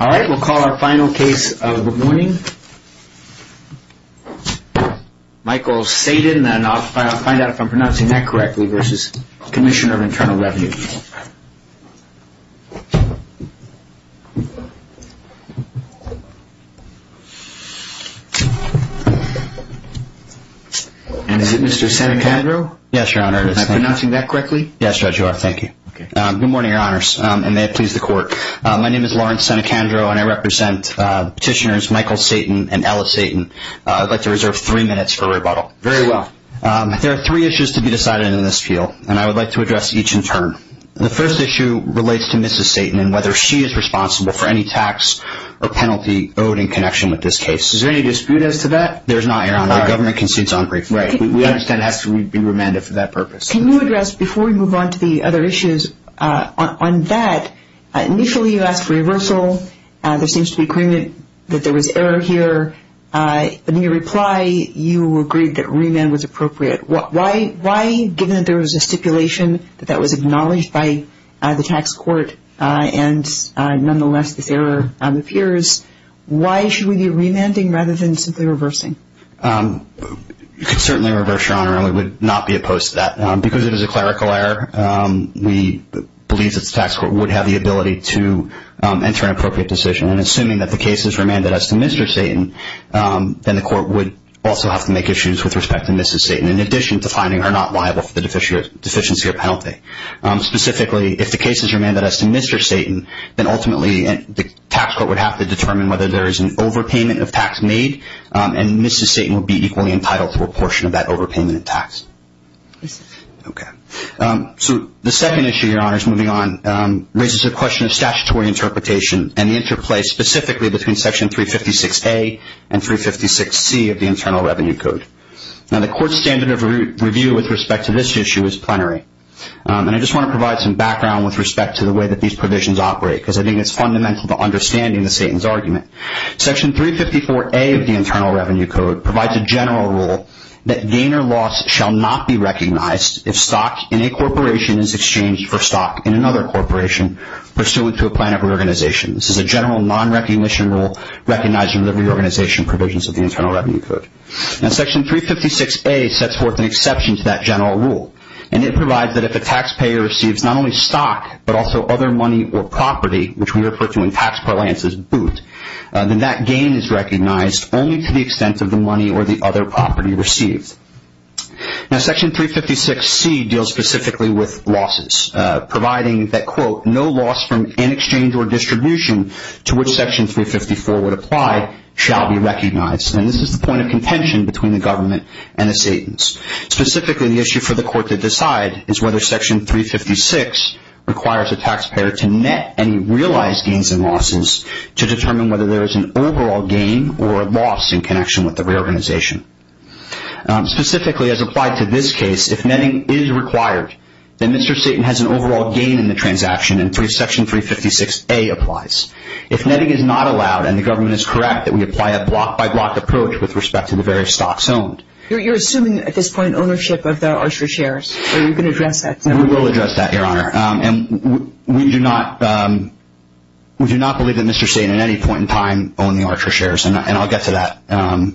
All right, we'll call our final case of the morning. Michael Tseytin, and I'll find out if I'm pronouncing that correctly, versus Commissioner of Internal Revenue. And is it Mr. Senecandro? Yes, Your Honor, it is. Am I pronouncing that correctly? Yes, Judge, you are. Thank you. Good morning, Your Honors, and may it please the Court. My name is Lawrence Senecandro, and I represent Petitioners Michael Tseytin and Ella Tseytin. I'd like to reserve three minutes for rebuttal. Very well. There are three issues to be decided in this field, and I would like to address each in turn. The first issue relates to Mrs. Tseytin and whether she is responsible for any tax or penalty owed in connection with this case. Is there any dispute as to that? There's not, Your Honor. All right. The government concedes on brief. Right. We understand it has to be remanded for that purpose. Can you address, before we move on to the other issues, on that, initially you asked for reversal. There seems to be a claim that there was error here. In your reply, you agreed that remand was appropriate. Why, given that there was a stipulation that that was acknowledged by the tax court and, nonetheless, this error appears, why should we be remanding rather than simply reversing? You could certainly reverse, Your Honor, and we would not be opposed to that. Because it is a clerical error, we believe that the tax court would have the ability to enter an appropriate decision, and assuming that the case is remanded as to Mr. Tseytin, then the court would also have to make issues with respect to Mrs. Tseytin, in addition to finding her not liable for the deficiency or penalty. Specifically, if the case is remanded as to Mr. Tseytin, then ultimately the tax court would have to determine whether there is an overpayment of tax made, and Mrs. Tseytin would be equally entitled to a portion of that overpayment of tax. Yes, sir. Okay. So the second issue, Your Honor, is moving on, raises a question of statutory interpretation and the interplay specifically between Section 356A and 356C of the Internal Revenue Code. Now, the court's standard of review with respect to this issue is plenary, and I just want to provide some background with respect to the way that these provisions operate, because I think it's fundamental to understanding the Tseytin's argument. Section 354A of the Internal Revenue Code provides a general rule that gain or loss shall not be recognized if stock in a corporation is exchanged for stock in another corporation pursuant to a plan of reorganization. This is a general non-recognition rule recognizing the reorganization provisions of the Internal Revenue Code. Now, Section 356A sets forth an exception to that general rule, and it provides that if a taxpayer receives not only stock but also other money or property, which we refer to in tax parlance as boot, then that gain is recognized only to the extent of the money or the other property received. Now, Section 356C deals specifically with losses, providing that, quote, no loss from any exchange or distribution to which Section 354 would apply shall be recognized. And this is the point of contention between the government and the Tseytin's. Specifically, the issue for the court to decide is whether Section 356 requires a taxpayer to net any realized gains and losses to determine whether there is an overall gain or a loss in connection with the reorganization. Specifically, as applied to this case, if netting is required, then Mr. Tseytin has an overall gain in the transaction, and Section 356A applies. If netting is not allowed and the government is correct, then we apply a block-by-block approach with respect to the various stocks owned. You're assuming at this point ownership of the Archer shares. Are you going to address that to me? We will address that, Your Honor. And we do not believe that Mr. Tseytin at any point in time owned the Archer shares, and I'll get to that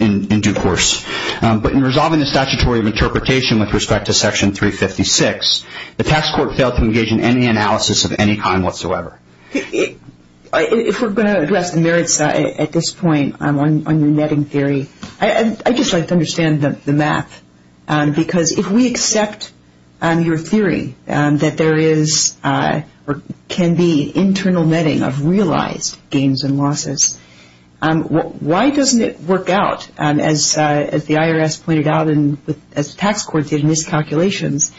in due course. But in resolving the statutory of interpretation with respect to Section 356, the tax court failed to engage in any analysis of any kind whatsoever. If we're going to address the merits at this point on your netting theory, I'd just like to understand the math, because if we accept your theory that there is or can be internal netting of realized gains and losses, why doesn't it work out, as the IRS pointed out and as the tax court did in its calculations,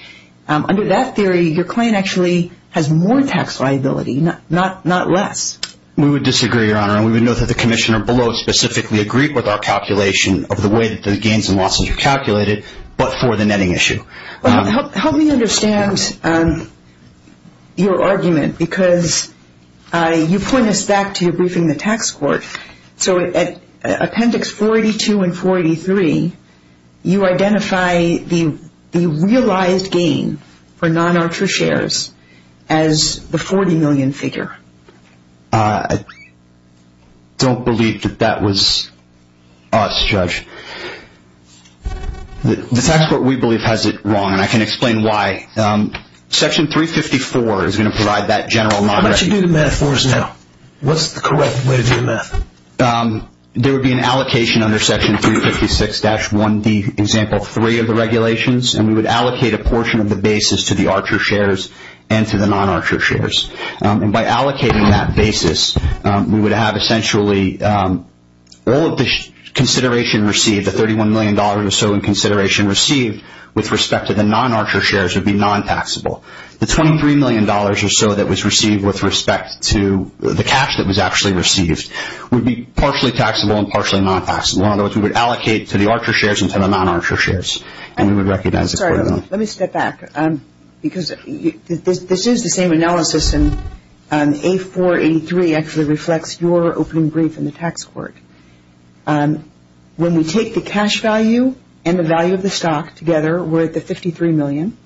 under that theory your claim actually has more tax liability, not less. We would disagree, Your Honor, and we would note that the Commissioner below specifically agreed with our calculation of the way that the gains and losses are calculated, but for the netting issue. Help me understand your argument, because you point us back to your briefing the tax court. So, at Appendix 482 and 483, you identify the realized gain for non-Archer shares as the 40 million figure. I don't believe that that was us, Judge. The tax court, we believe, has it wrong, and I can explain why. Section 354 is going to provide that general non-recognition. How would you do the math for us now? What's the correct way to do the math? There would be an allocation under Section 356-1D, Example 3 of the regulations, and we would allocate a portion of the basis to the Archer shares and to the non-Archer shares. By allocating that basis, we would have essentially all of the consideration received, the $31 million or so in consideration received with respect to the non-Archer shares, would be non-taxable. The $23 million or so that was received with respect to the cash that was actually received would be partially taxable and partially non-taxable. In other words, we would allocate to the Archer shares and to the non-Archer shares, and we would recognize the 40 million. Let me step back, because this is the same analysis, and A483 actually reflects your opening brief in the tax court. When we take the cash value and the value of the stock together, we're at the 53 million.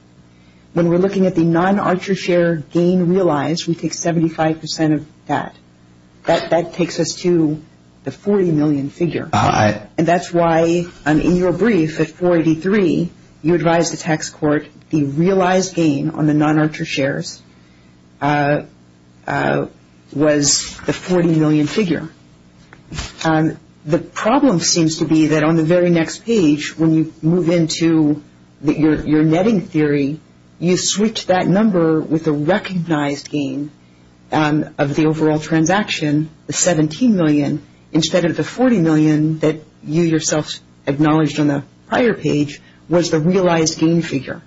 When we're looking at the non-Archer share gain realized, we take 75% of that. That takes us to the 40 million figure. And that's why in your brief at 483, you advised the tax court the realized gain on the non-Archer shares was the 40 million figure. The problem seems to be that on the very next page, when you move into your netting theory, you switch that number with the recognized gain of the overall transaction, the 17 million, instead of the 40 million that you yourself acknowledged on the prior page was the realized gain figure.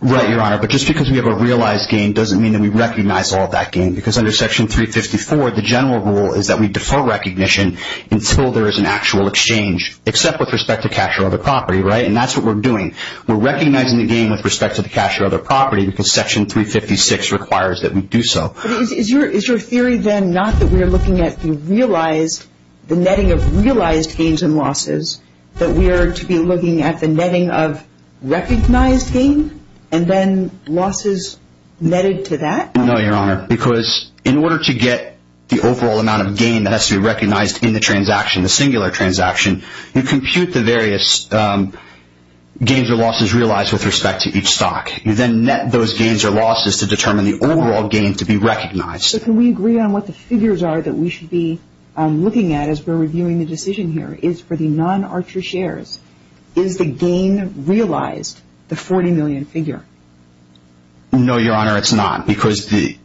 Right, Your Honor. But just because we have a realized gain doesn't mean that we recognize all of that gain, because under Section 354, the general rule is that we defer recognition until there is an actual exchange, except with respect to cash or other property, right? And that's what we're doing. We're recognizing the gain with respect to the cash or other property, because Section 356 requires that we do so. Is your theory then not that we are looking at the netting of realized gains and losses, that we are to be looking at the netting of recognized gain, and then losses netted to that? No, Your Honor, because in order to get the overall amount of gain that has to be recognized in the transaction, the singular transaction, you compute the various gains or losses realized with respect to each stock. You then net those gains or losses to determine the overall gain to be recognized. So can we agree on what the figures are that we should be looking at as we're reviewing the decision here? Is for the non-Archer shares, is the gain realized, the 40 million figure? No, Your Honor, it's not, because the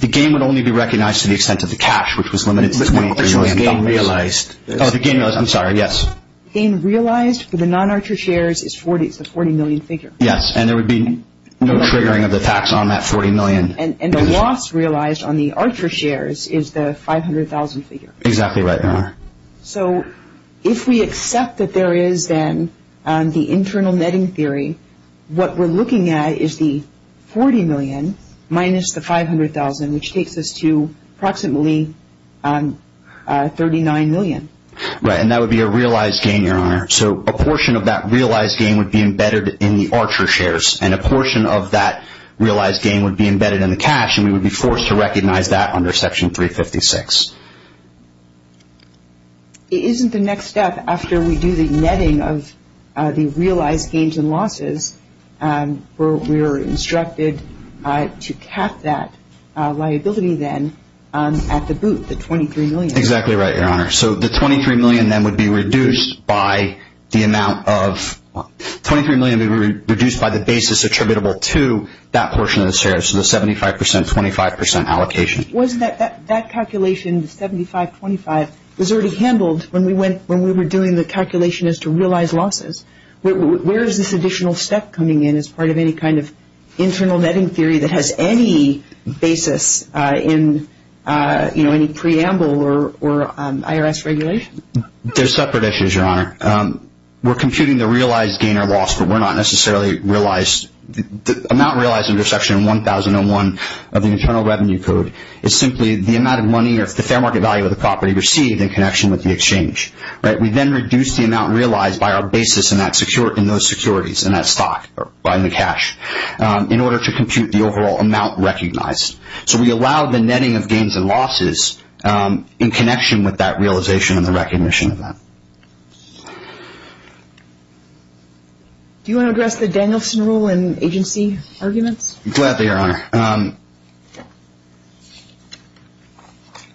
gain would only be recognized to the extent of the cash, which was limited to 20 percent. The gain realized for the non-Archer shares is the 40 million figure. Yes, and there would be no triggering of the tax on that 40 million. And the loss realized on the Archer shares is the 500,000 figure. Exactly right, Your Honor. So if we accept that there is then the internal netting theory, what we're looking at is the 40 million minus the 500,000, which takes us to approximately 39 million. Right, and that would be a realized gain, Your Honor. So a portion of that realized gain would be embedded in the Archer shares, and a portion of that realized gain would be embedded in the cash, and we would be forced to recognize that under Section 356. Isn't the next step, after we do the netting of the realized gains and losses, where we are instructed to cap that liability then at the boot, the 23 million? Exactly right, Your Honor. So the 23 million then would be reduced by the amount of – 23 million would be reduced by the basis attributable to that portion of the shares, so the 75 percent, 25 percent allocation. Wasn't that calculation, the 75-25, was already handled when we went – when we were doing the calculation as to realized losses? Where is this additional step coming in as part of any kind of internal netting theory that has any basis in, you know, any preamble or IRS regulation? They're separate issues, Your Honor. We're computing the realized gain or loss, but we're not necessarily realized – the amount realized under Section 1001 of the Internal Revenue Code is simply the amount of money or the fair market value of the property received in connection with the exchange. We then reduce the amount realized by our basis in those securities, in that stock, in the cash, in order to compute the overall amount recognized. So we allow the netting of gains and losses in connection with that realization and the recognition of that. Do you want to address the Danielson rule in agency arguments? Gladly, Your Honor.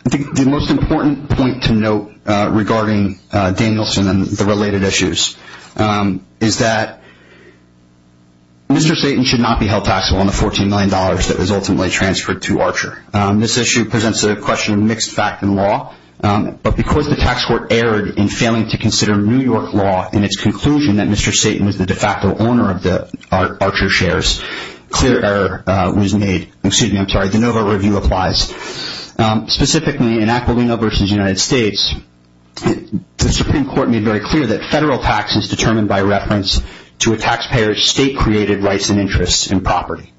The most important point to note regarding Danielson and the related issues is that Mr. Satan should not be held taxable on the $14 million that was ultimately transferred to Archer. This issue presents a question of mixed fact in law, but because the tax court erred in failing to consider New York law in its conclusion that Mr. Satan was the de facto owner of the Archer shares, clear error was made. Excuse me, I'm sorry. The NOVA review applies. Specifically, in Aquilino v. United States, the Supreme Court made very clear that federal tax is determined by reference to a taxpayer's state-created rights and interests in property.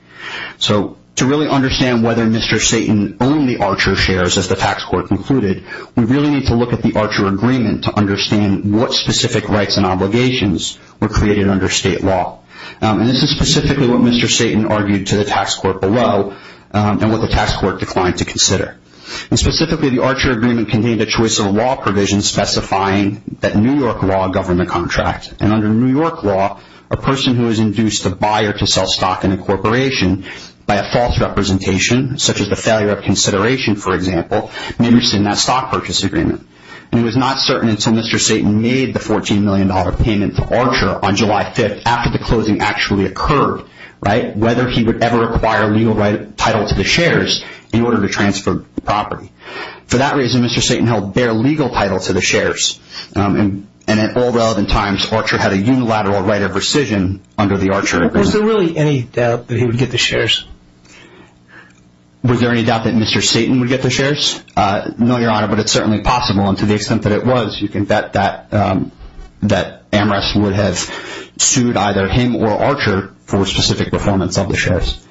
So to really understand whether Mr. Satan owned the Archer shares, as the tax court concluded, we really need to look at the Archer agreement to understand what specific rights and obligations were created under state law. This is specifically what Mr. Satan argued to the tax court below and what the tax court declined to consider. Specifically, the Archer agreement contained a choice of law provision specifying that New York law governed the contract, and under New York law, a person who has induced a buyer to sell stock in a corporation by a false representation, such as the failure of consideration, for example, may be interested in that stock purchase agreement. It was not certain until Mr. Satan made the $14 million payment to Archer on July 5th, after the closing actually occurred, whether he would ever acquire legal title to the shares in order to transfer the property. For that reason, Mr. Satan held bare legal title to the shares, and at all relevant times, Archer had a unilateral right of rescission under the Archer agreement. Was there really any doubt that he would get the shares? Was there any doubt that Mr. Satan would get the shares? No, Your Honor, but it's certainly possible, and to the extent that it was, you can bet that Amherst would have sued either him or Archer for specific performance of the shares.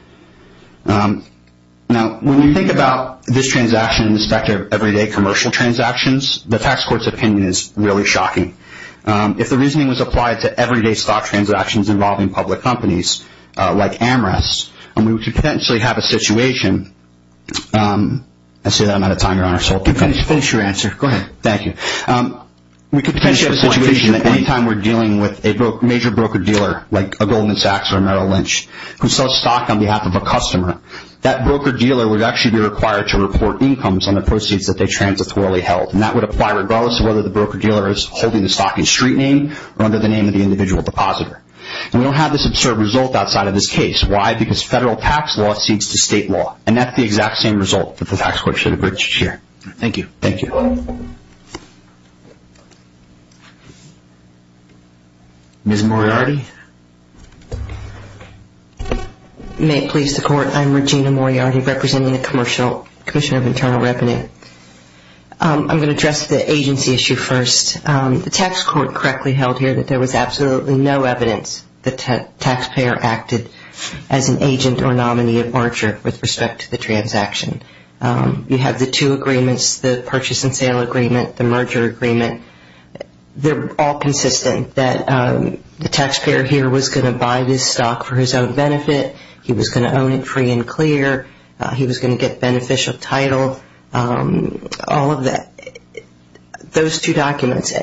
Now, when you think about this transaction in respect of everyday commercial transactions, the tax court's opinion is really shocking. If the reasoning was applied to everyday stock transactions involving public companies, like Amherst, we could potentially have a situation. I see that I'm out of time, Your Honor, so I'll finish your answer. Go ahead. Thank you. We could potentially have a situation that any time we're dealing with a major broker-dealer, like a Goldman Sachs or Merrill Lynch, who sells stock on behalf of a customer, that broker-dealer would actually be required to report incomes on the proceeds that they transitorily held, and that would apply regardless of whether the broker-dealer is holding the stock in street name or under the name of the individual depositor. We don't have this absurd result outside of this case. Why? Because federal tax law cedes to state law, and that's the exact same result that the tax court should have reached here. Thank you. Thank you. Ms. Moriarty? May it please the Court, I'm Regina Moriarty, representing the Commissioner of Internal Revenue. I'm going to address the agency issue first. The tax court correctly held here that there was absolutely no evidence that the taxpayer acted as an agent or nominee of merger with respect to the transaction. You have the two agreements, the purchase and sale agreement, the merger agreement. They're all consistent that the taxpayer here was going to buy this stock for his own benefit. He was going to own it free and clear. He was going to get beneficial title, all of that. Those two documents,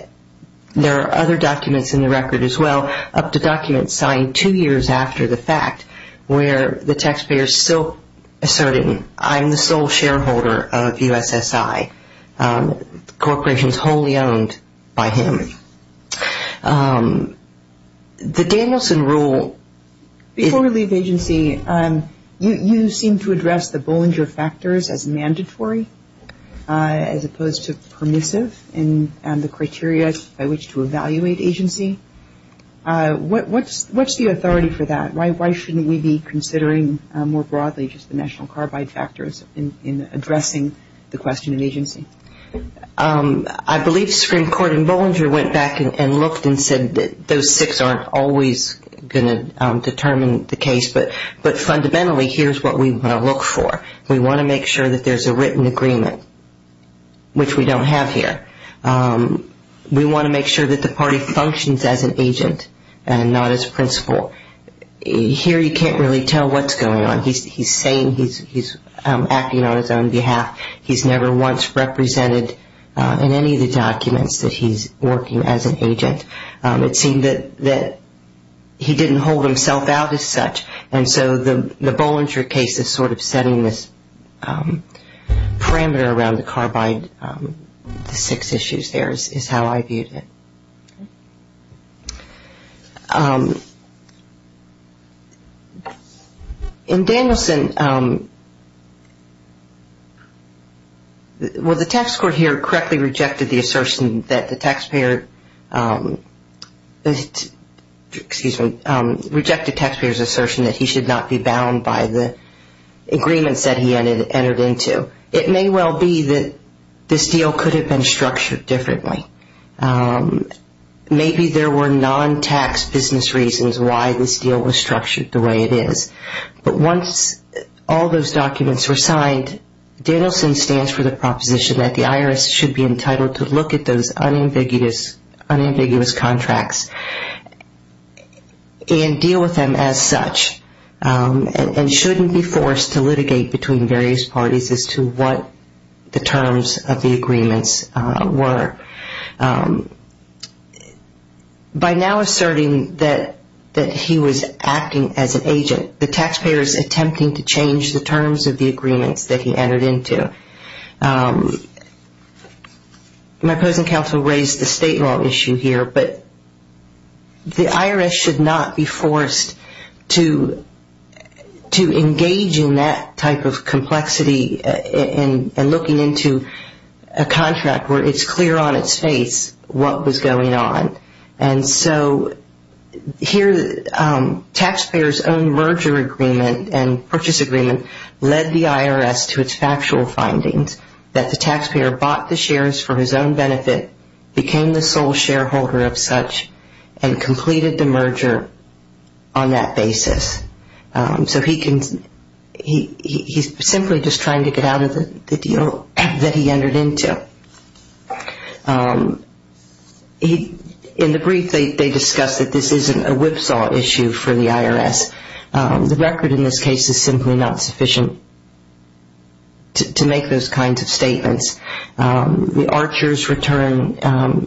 there are other documents in the record as well, up to documents signed two years after the fact, where the taxpayer is still asserting, I'm the sole shareholder of USSI. The corporation is wholly owned by him. The Danielson rule – Before we leave agency, you seem to address the Bollinger factors as mandatory as opposed to permissive in the criteria by which to evaluate agency. What's the authority for that? Why shouldn't we be considering more broadly just the national carbide factors in addressing the question of agency? I believe Supreme Court in Bollinger went back and looked and said those six aren't always going to determine the case, but fundamentally here's what we want to look for. We want to make sure that there's a written agreement, which we don't have here. We want to make sure that the party functions as an agent and not as principal. Here you can't really tell what's going on. He's saying he's acting on his own behalf. He's never once represented in any of the documents that he's working as an agent. It seemed that he didn't hold himself out as such, and so the Bollinger case is sort of setting this parameter around the carbide, the six issues there is how I viewed it. In Danielson, well, the tax court here correctly rejected the assertion that the taxpayer, excuse me, rejected taxpayer's assertion that he should not be bound by the agreements that he entered into. It may well be that this deal could have been structured differently. Maybe there were non-tax business reasons why this deal was structured the way it is, but once all those documents were signed, Danielson stands for the proposition that the IRS should be entitled to look at those unambiguous contracts and deal with them as such and shouldn't be forced to litigate between various parties as to what the terms of the agreements were. By now asserting that he was acting as an agent, the taxpayer is attempting to change the terms of the agreements that he entered into. My opposing counsel raised the state law issue here, but the IRS should not be forced to engage in that type of complexity and looking into a contract where it's clear on its face what was going on. And so here, taxpayer's own merger agreement and purchase agreement led the IRS to its factual findings that the taxpayer bought the shares for his own benefit, became the sole shareholder of such, and completed the merger on that basis. So he's simply just trying to get out of the deal that he entered into. In the brief, they discuss that this isn't a whipsaw issue for the IRS. The record in this case is simply not sufficient to make those kinds of statements. The archers return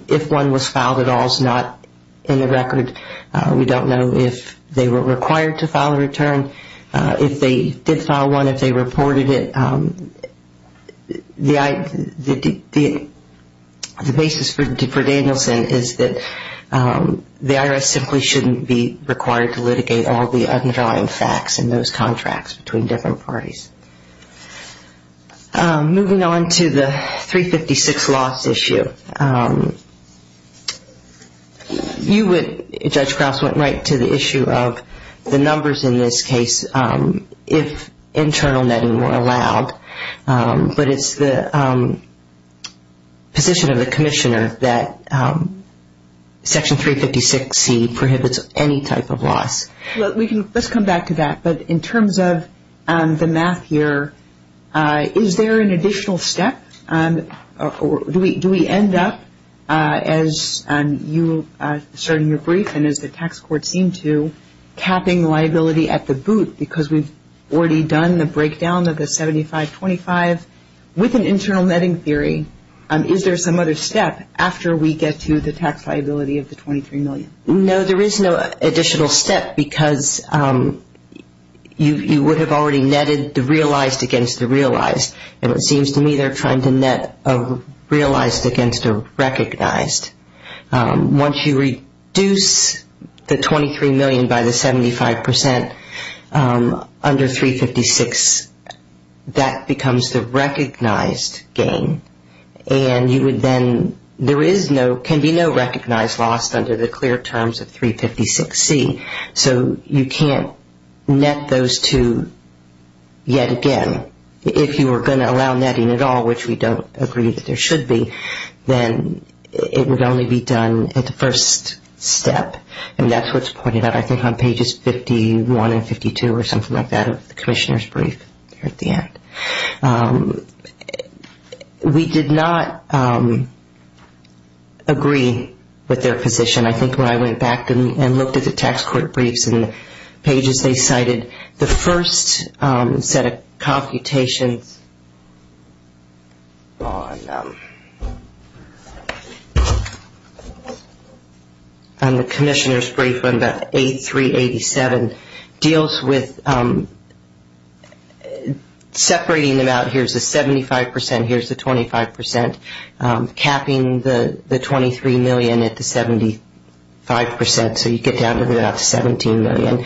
if one was filed at all is not in the record. We don't know if they were required to file a return. If they did file one, if they reported it, the basis for Danielson is that the IRS simply shouldn't be required to litigate all the underlying facts in those contracts between different parties. Moving on to the 356 loss issue. You would, Judge Krauss, would write to the issue of the numbers in this case if internal netting were allowed. But it's the position of the commissioner that Section 356C prohibits any type of loss. Let's come back to that. But in terms of the math here, is there an additional step? Do we end up, as you assert in your brief and as the tax court seemed to, capping liability at the boot because we've already done the breakdown of the 7525? With an internal netting theory, is there some other step after we get to the tax liability of the $23 million? No, there is no additional step because you would have already netted the realized against the realized. And it seems to me they're trying to net a realized against a recognized. Once you reduce the $23 million by the 75% under 356, that becomes the recognized gain. And you would then, there is no, can be no recognized loss under the clear terms of 356C. So you can't net those two yet again. If you were going to allow netting at all, which we don't agree that there should be, then it would only be done at the first step. And that's what's pointed out, I think, on pages 51 and 52 or something like that of the commissioner's brief at the end. We did not agree with their position. And I think when I went back and looked at the tax court briefs and the pages they cited, the first set of computations on the commissioner's brief on the 8387 deals with separating them out. Here's the 75%, here's the 25%, capping the $23 million at the 75%, so you get down to about $17 million.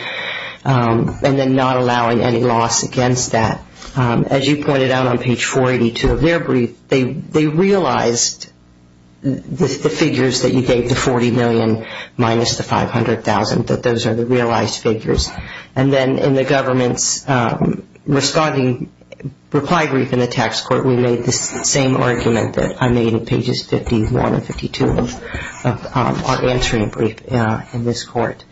And then not allowing any loss against that. As you pointed out on page 482 of their brief, they realized the figures that you gave, the $40 million minus the $500,000, that those are the realized figures. And then in the government's responding reply brief in the tax court, we made the same argument that I made in pages 51 and 52 of our answering brief in this court.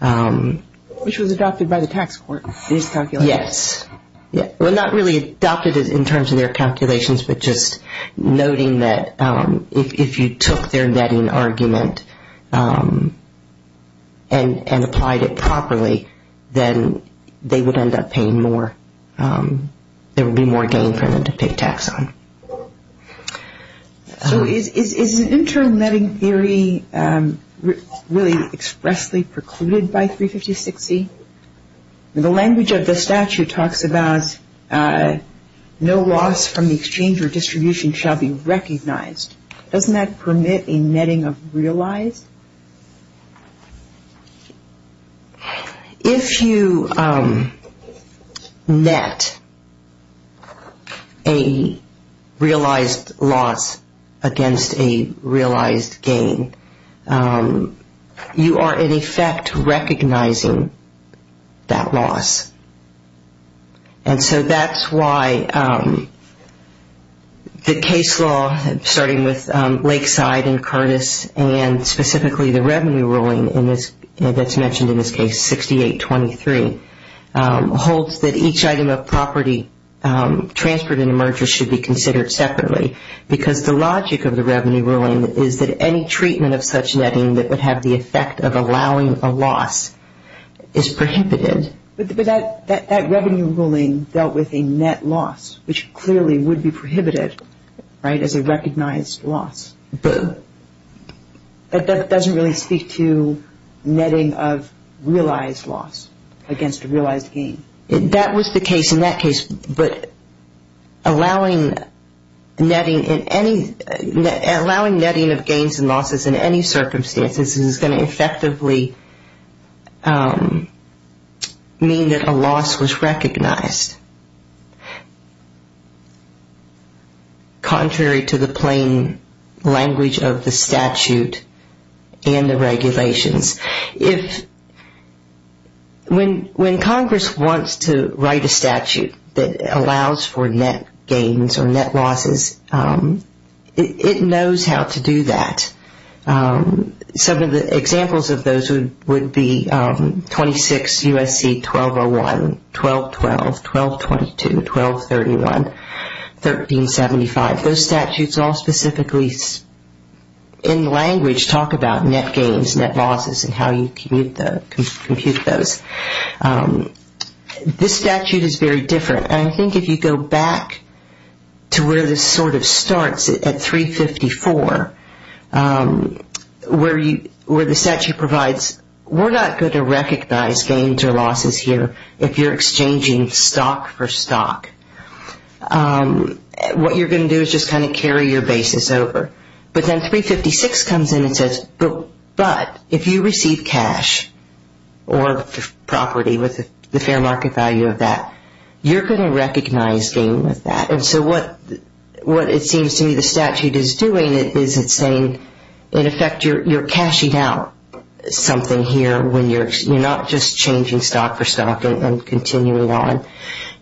Which was adopted by the tax court, these calculations. Yes. Well, not really adopted in terms of their calculations, but just noting that if you took their netting argument and applied it properly, then they would end up paying more. There would be more gain for them to pay tax on. So is internal netting theory really expressly precluded by 356C? The language of the statute talks about no loss from the exchange or distribution shall be recognized. Doesn't that permit a netting of realized? If you net a realized loss against a realized gain, you are, in effect, recognizing that loss. And so that's why the case law, starting with Lakeside and Curtis, and specifically the revenue ruling that's mentioned in this case, 6823, holds that each item of property transferred in a merger should be considered separately. Because the logic of the revenue ruling is that any treatment of such netting that would have the effect of allowing a loss is prohibited. But that revenue ruling dealt with a net loss, which clearly would be prohibited as a recognized loss. But that doesn't really speak to netting of realized loss against a realized gain. That was the case in that case, but allowing netting of gains and losses in any circumstances is going to effectively mean that a loss was recognized. Contrary to the plain language of the statute and the regulations, when Congress wants to write a statute that allows for net gains or net losses, it knows how to do that. Some of the examples of those would be 26 U.S.C. 1201, 1212, 1222, 1231, 1375. Those statutes all specifically, in language, talk about net gains, net losses, and how you compute those. This statute is very different. I think if you go back to where this sort of starts at 354, where the statute provides, we're not going to recognize gains or losses here if you're exchanging stock for stock. What you're going to do is just kind of carry your basis over. But then 356 comes in and says, but if you receive cash or property with the fair market value of that, you're going to recognize gain with that. And so what it seems to me the statute is doing is it's saying, in effect, you're cashing out something here when you're not just changing stock for stock and continuing on.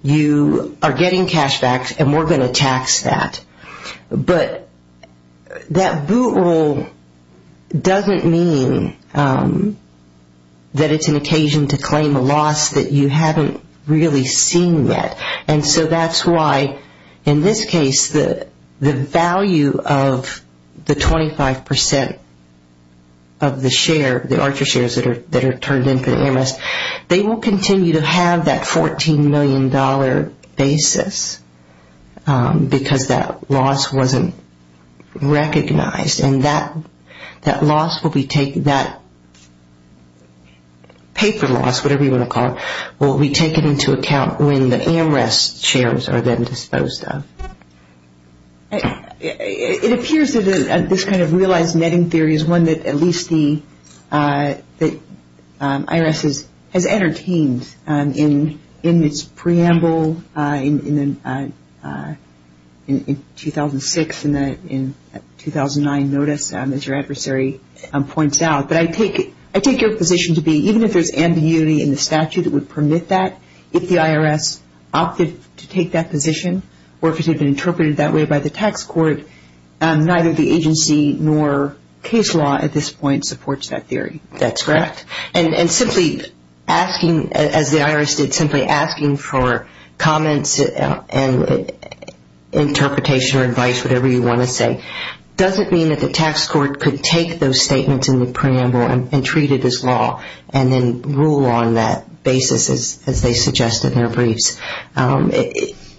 You are getting cash back, and we're going to tax that. But that boot roll doesn't mean that it's an occasion to claim a loss that you haven't really seen yet. And so that's why, in this case, the value of the 25% of the share, the Archer shares that are turned in for the AMS, they will continue to have that $14 million basis because that loss wasn't recognized. And that paper loss, whatever you want to call it, will be taken into account when the AMRES shares are then disposed of. It appears that this kind of realized netting theory is one that at least the IRS has entertained in its preamble, in 2006 and 2009 notice, as your adversary points out. But I take your position to be even if there's ambiguity in the statute that would permit that, if the IRS opted to take that position or if it had been interpreted that way by the tax court, neither the agency nor case law at this point supports that theory. That's correct. And simply asking, as the IRS did, simply asking for comments and interpretation or advice, whatever you want to say, doesn't mean that the tax court could take those statements in the preamble and treat it as law and then rule on that basis as they suggest in their briefs.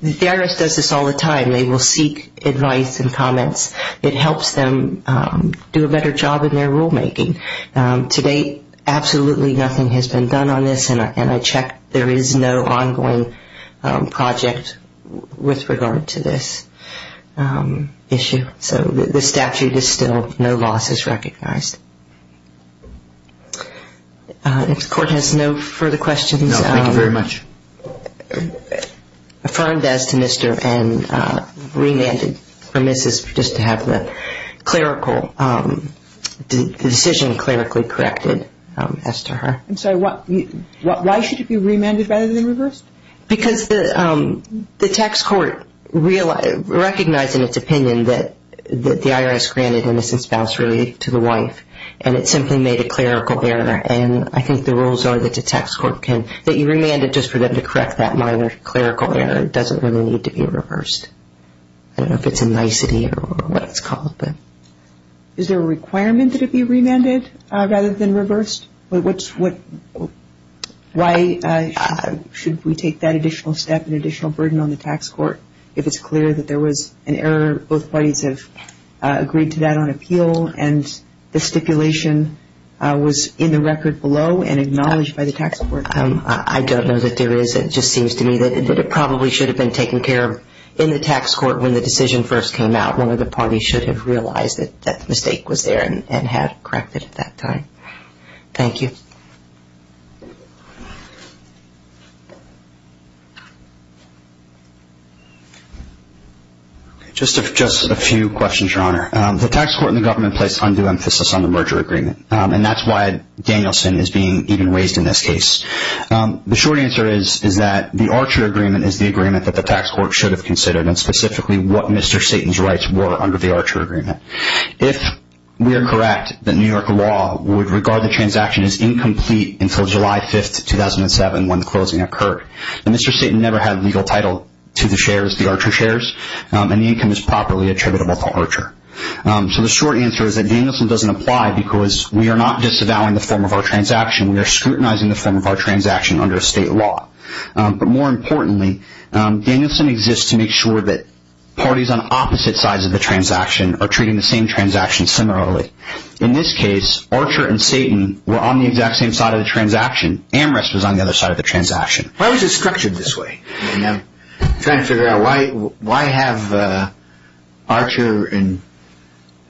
The IRS does this all the time. They will seek advice and comments. It helps them do a better job in their rulemaking. To date, absolutely nothing has been done on this, and I check there is no ongoing project with regard to this issue. So the statute is still no losses recognized. If the court has no further questions. No, thank you very much. Affirmed as to Mr. and remanded for Mrs. just to have the clerical decision clerically corrected as to her. And so why should it be remanded rather than reversed? Because the tax court recognized in its opinion that the IRS granted innocent spouse relief to the wife, and it simply made a clerical error, and I think the rules are that the tax court can, that you remand it just for them to correct that minor clerical error. It doesn't really need to be reversed. I don't know if it's a nicety or what it's called, but. Is there a requirement that it be remanded rather than reversed? Why should we take that additional step, an additional burden on the tax court, if it's clear that there was an error, both parties have agreed to that on appeal, and the stipulation was in the record below and acknowledged by the tax court? I don't know that there is. It just seems to me that it probably should have been taken care of in the tax court when the decision first came out. One of the parties should have realized that that mistake was there and had corrected at that time. Thank you. Just a few questions, Your Honor. The tax court and the government placed undue emphasis on the merger agreement, and that's why Danielson is being even raised in this case. The short answer is that the Archer agreement is the agreement that the tax court should have considered, and specifically what Mr. Satan's rights were under the Archer agreement. If we are correct, the New York law would regard the transaction as incomplete until July 5, 2007 when the closing occurred. Mr. Satan never had legal title to the shares, the Archer shares, and the income is properly attributable to Archer. So the short answer is that Danielson doesn't apply because we are not disavowing the form of our transaction. We are scrutinizing the form of our transaction under state law. But more importantly, Danielson exists to make sure that parties on opposite sides of the transaction are treating the same transaction similarly. In this case, Archer and Satan were on the exact same side of the transaction. Amherst was on the other side of the transaction. Why was it structured this way? I'm trying to figure out why have Archer and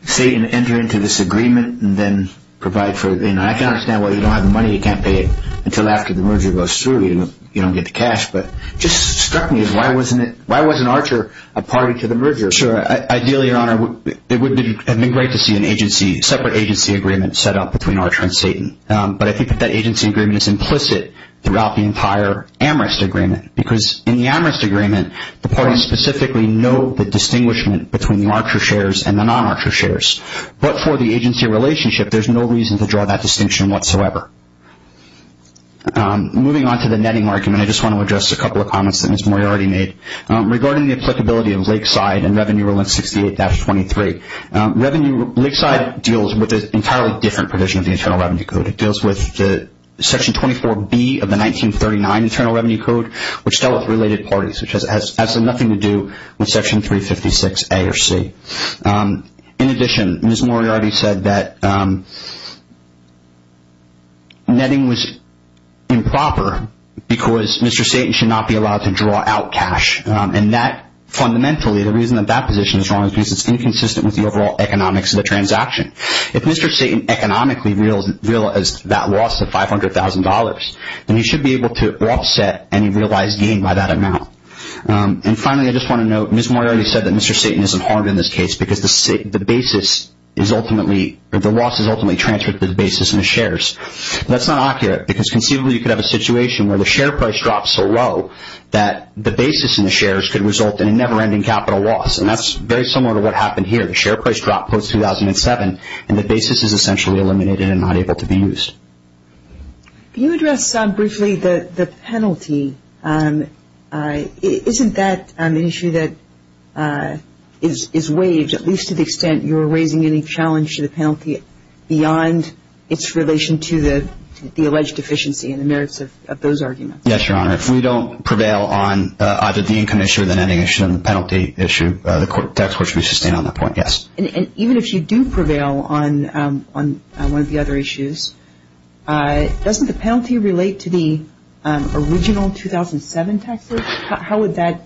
Satan enter into this agreement and then provide for it. I can understand why you don't have the money. You can't pay it until after the merger goes through. You don't get the cash, but it just struck me as why wasn't Archer a party to the merger? Sure. Ideally, Your Honor, it would have been great to see a separate agency agreement set up between Archer and Satan. But I think that that agency agreement is implicit throughout the entire Amherst agreement because in the Amherst agreement, the parties specifically know the distinguishment between the Archer shares and the non-Archer shares. But for the agency relationship, there's no reason to draw that distinction whatsoever. Moving on to the netting argument, I just want to address a couple of comments that Ms. Moyer already made. Regarding the applicability of Lakeside and Revenue Rule 68-23, Lakeside deals with an entirely different provision of the Internal Revenue Code. It deals with Section 24B of the 1939 Internal Revenue Code, which dealt with related parties, which has absolutely nothing to do with Section 356A or C. In addition, Ms. Moyer already said that netting was improper because Mr. Satan should not be allowed to draw out cash. Fundamentally, the reason that that position is wrong is because it's inconsistent with the overall economics of the transaction. If Mr. Satan economically realized that loss of $500,000, then he should be able to offset any realized gain by that amount. Finally, I just want to note, Ms. Moyer already said that Mr. Satan isn't harmed in this case because the loss is ultimately transferred to the basis and the shares. That's not accurate because conceivably you could have a situation where the share price drops so low that the basis and the shares could result in a never-ending capital loss. That's very similar to what happened here. The share price dropped post-2007 and the basis is essentially eliminated and not able to be used. Can you address briefly the penalty? Isn't that an issue that is waived, at least to the extent you're raising any challenge to the penalty beyond its relation to the alleged deficiency and the merits of those arguments? Yes, Your Honor. If we don't prevail on either the income issue or the netting issue and the penalty issue, the tax court should be sustained on that point, yes. Even if you do prevail on one of the other issues, doesn't the penalty relate to the original 2007 tax rate? How would that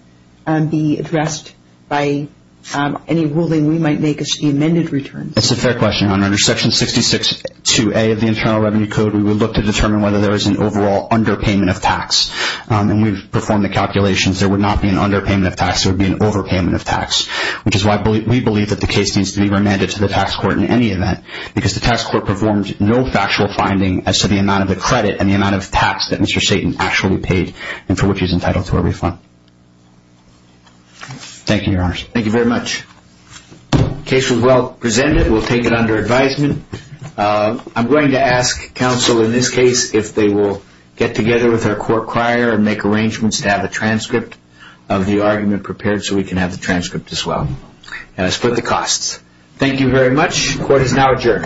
be addressed by any ruling we might make as to the amended returns? That's a fair question, Your Honor. Under Section 66-2A of the Internal Revenue Code, we would look to determine whether there is an overall underpayment of tax. When we perform the calculations, there would not be an underpayment of tax. There would be an overpayment of tax, which is why we believe that the case needs to be remanded to the tax court in any event, because the tax court performed no factual finding as to the amount of the credit and the amount of tax that Mr. Satan actually paid and for which he is entitled to a refund. Thank you, Your Honors. Thank you very much. The case was well presented. We'll take it under advisement. I'm going to ask counsel in this case if they will get together with their court crier and make arrangements to have a transcript of the argument prepared so we can have the transcript as well. And I split the costs. Thank you very much. Court is now adjourned.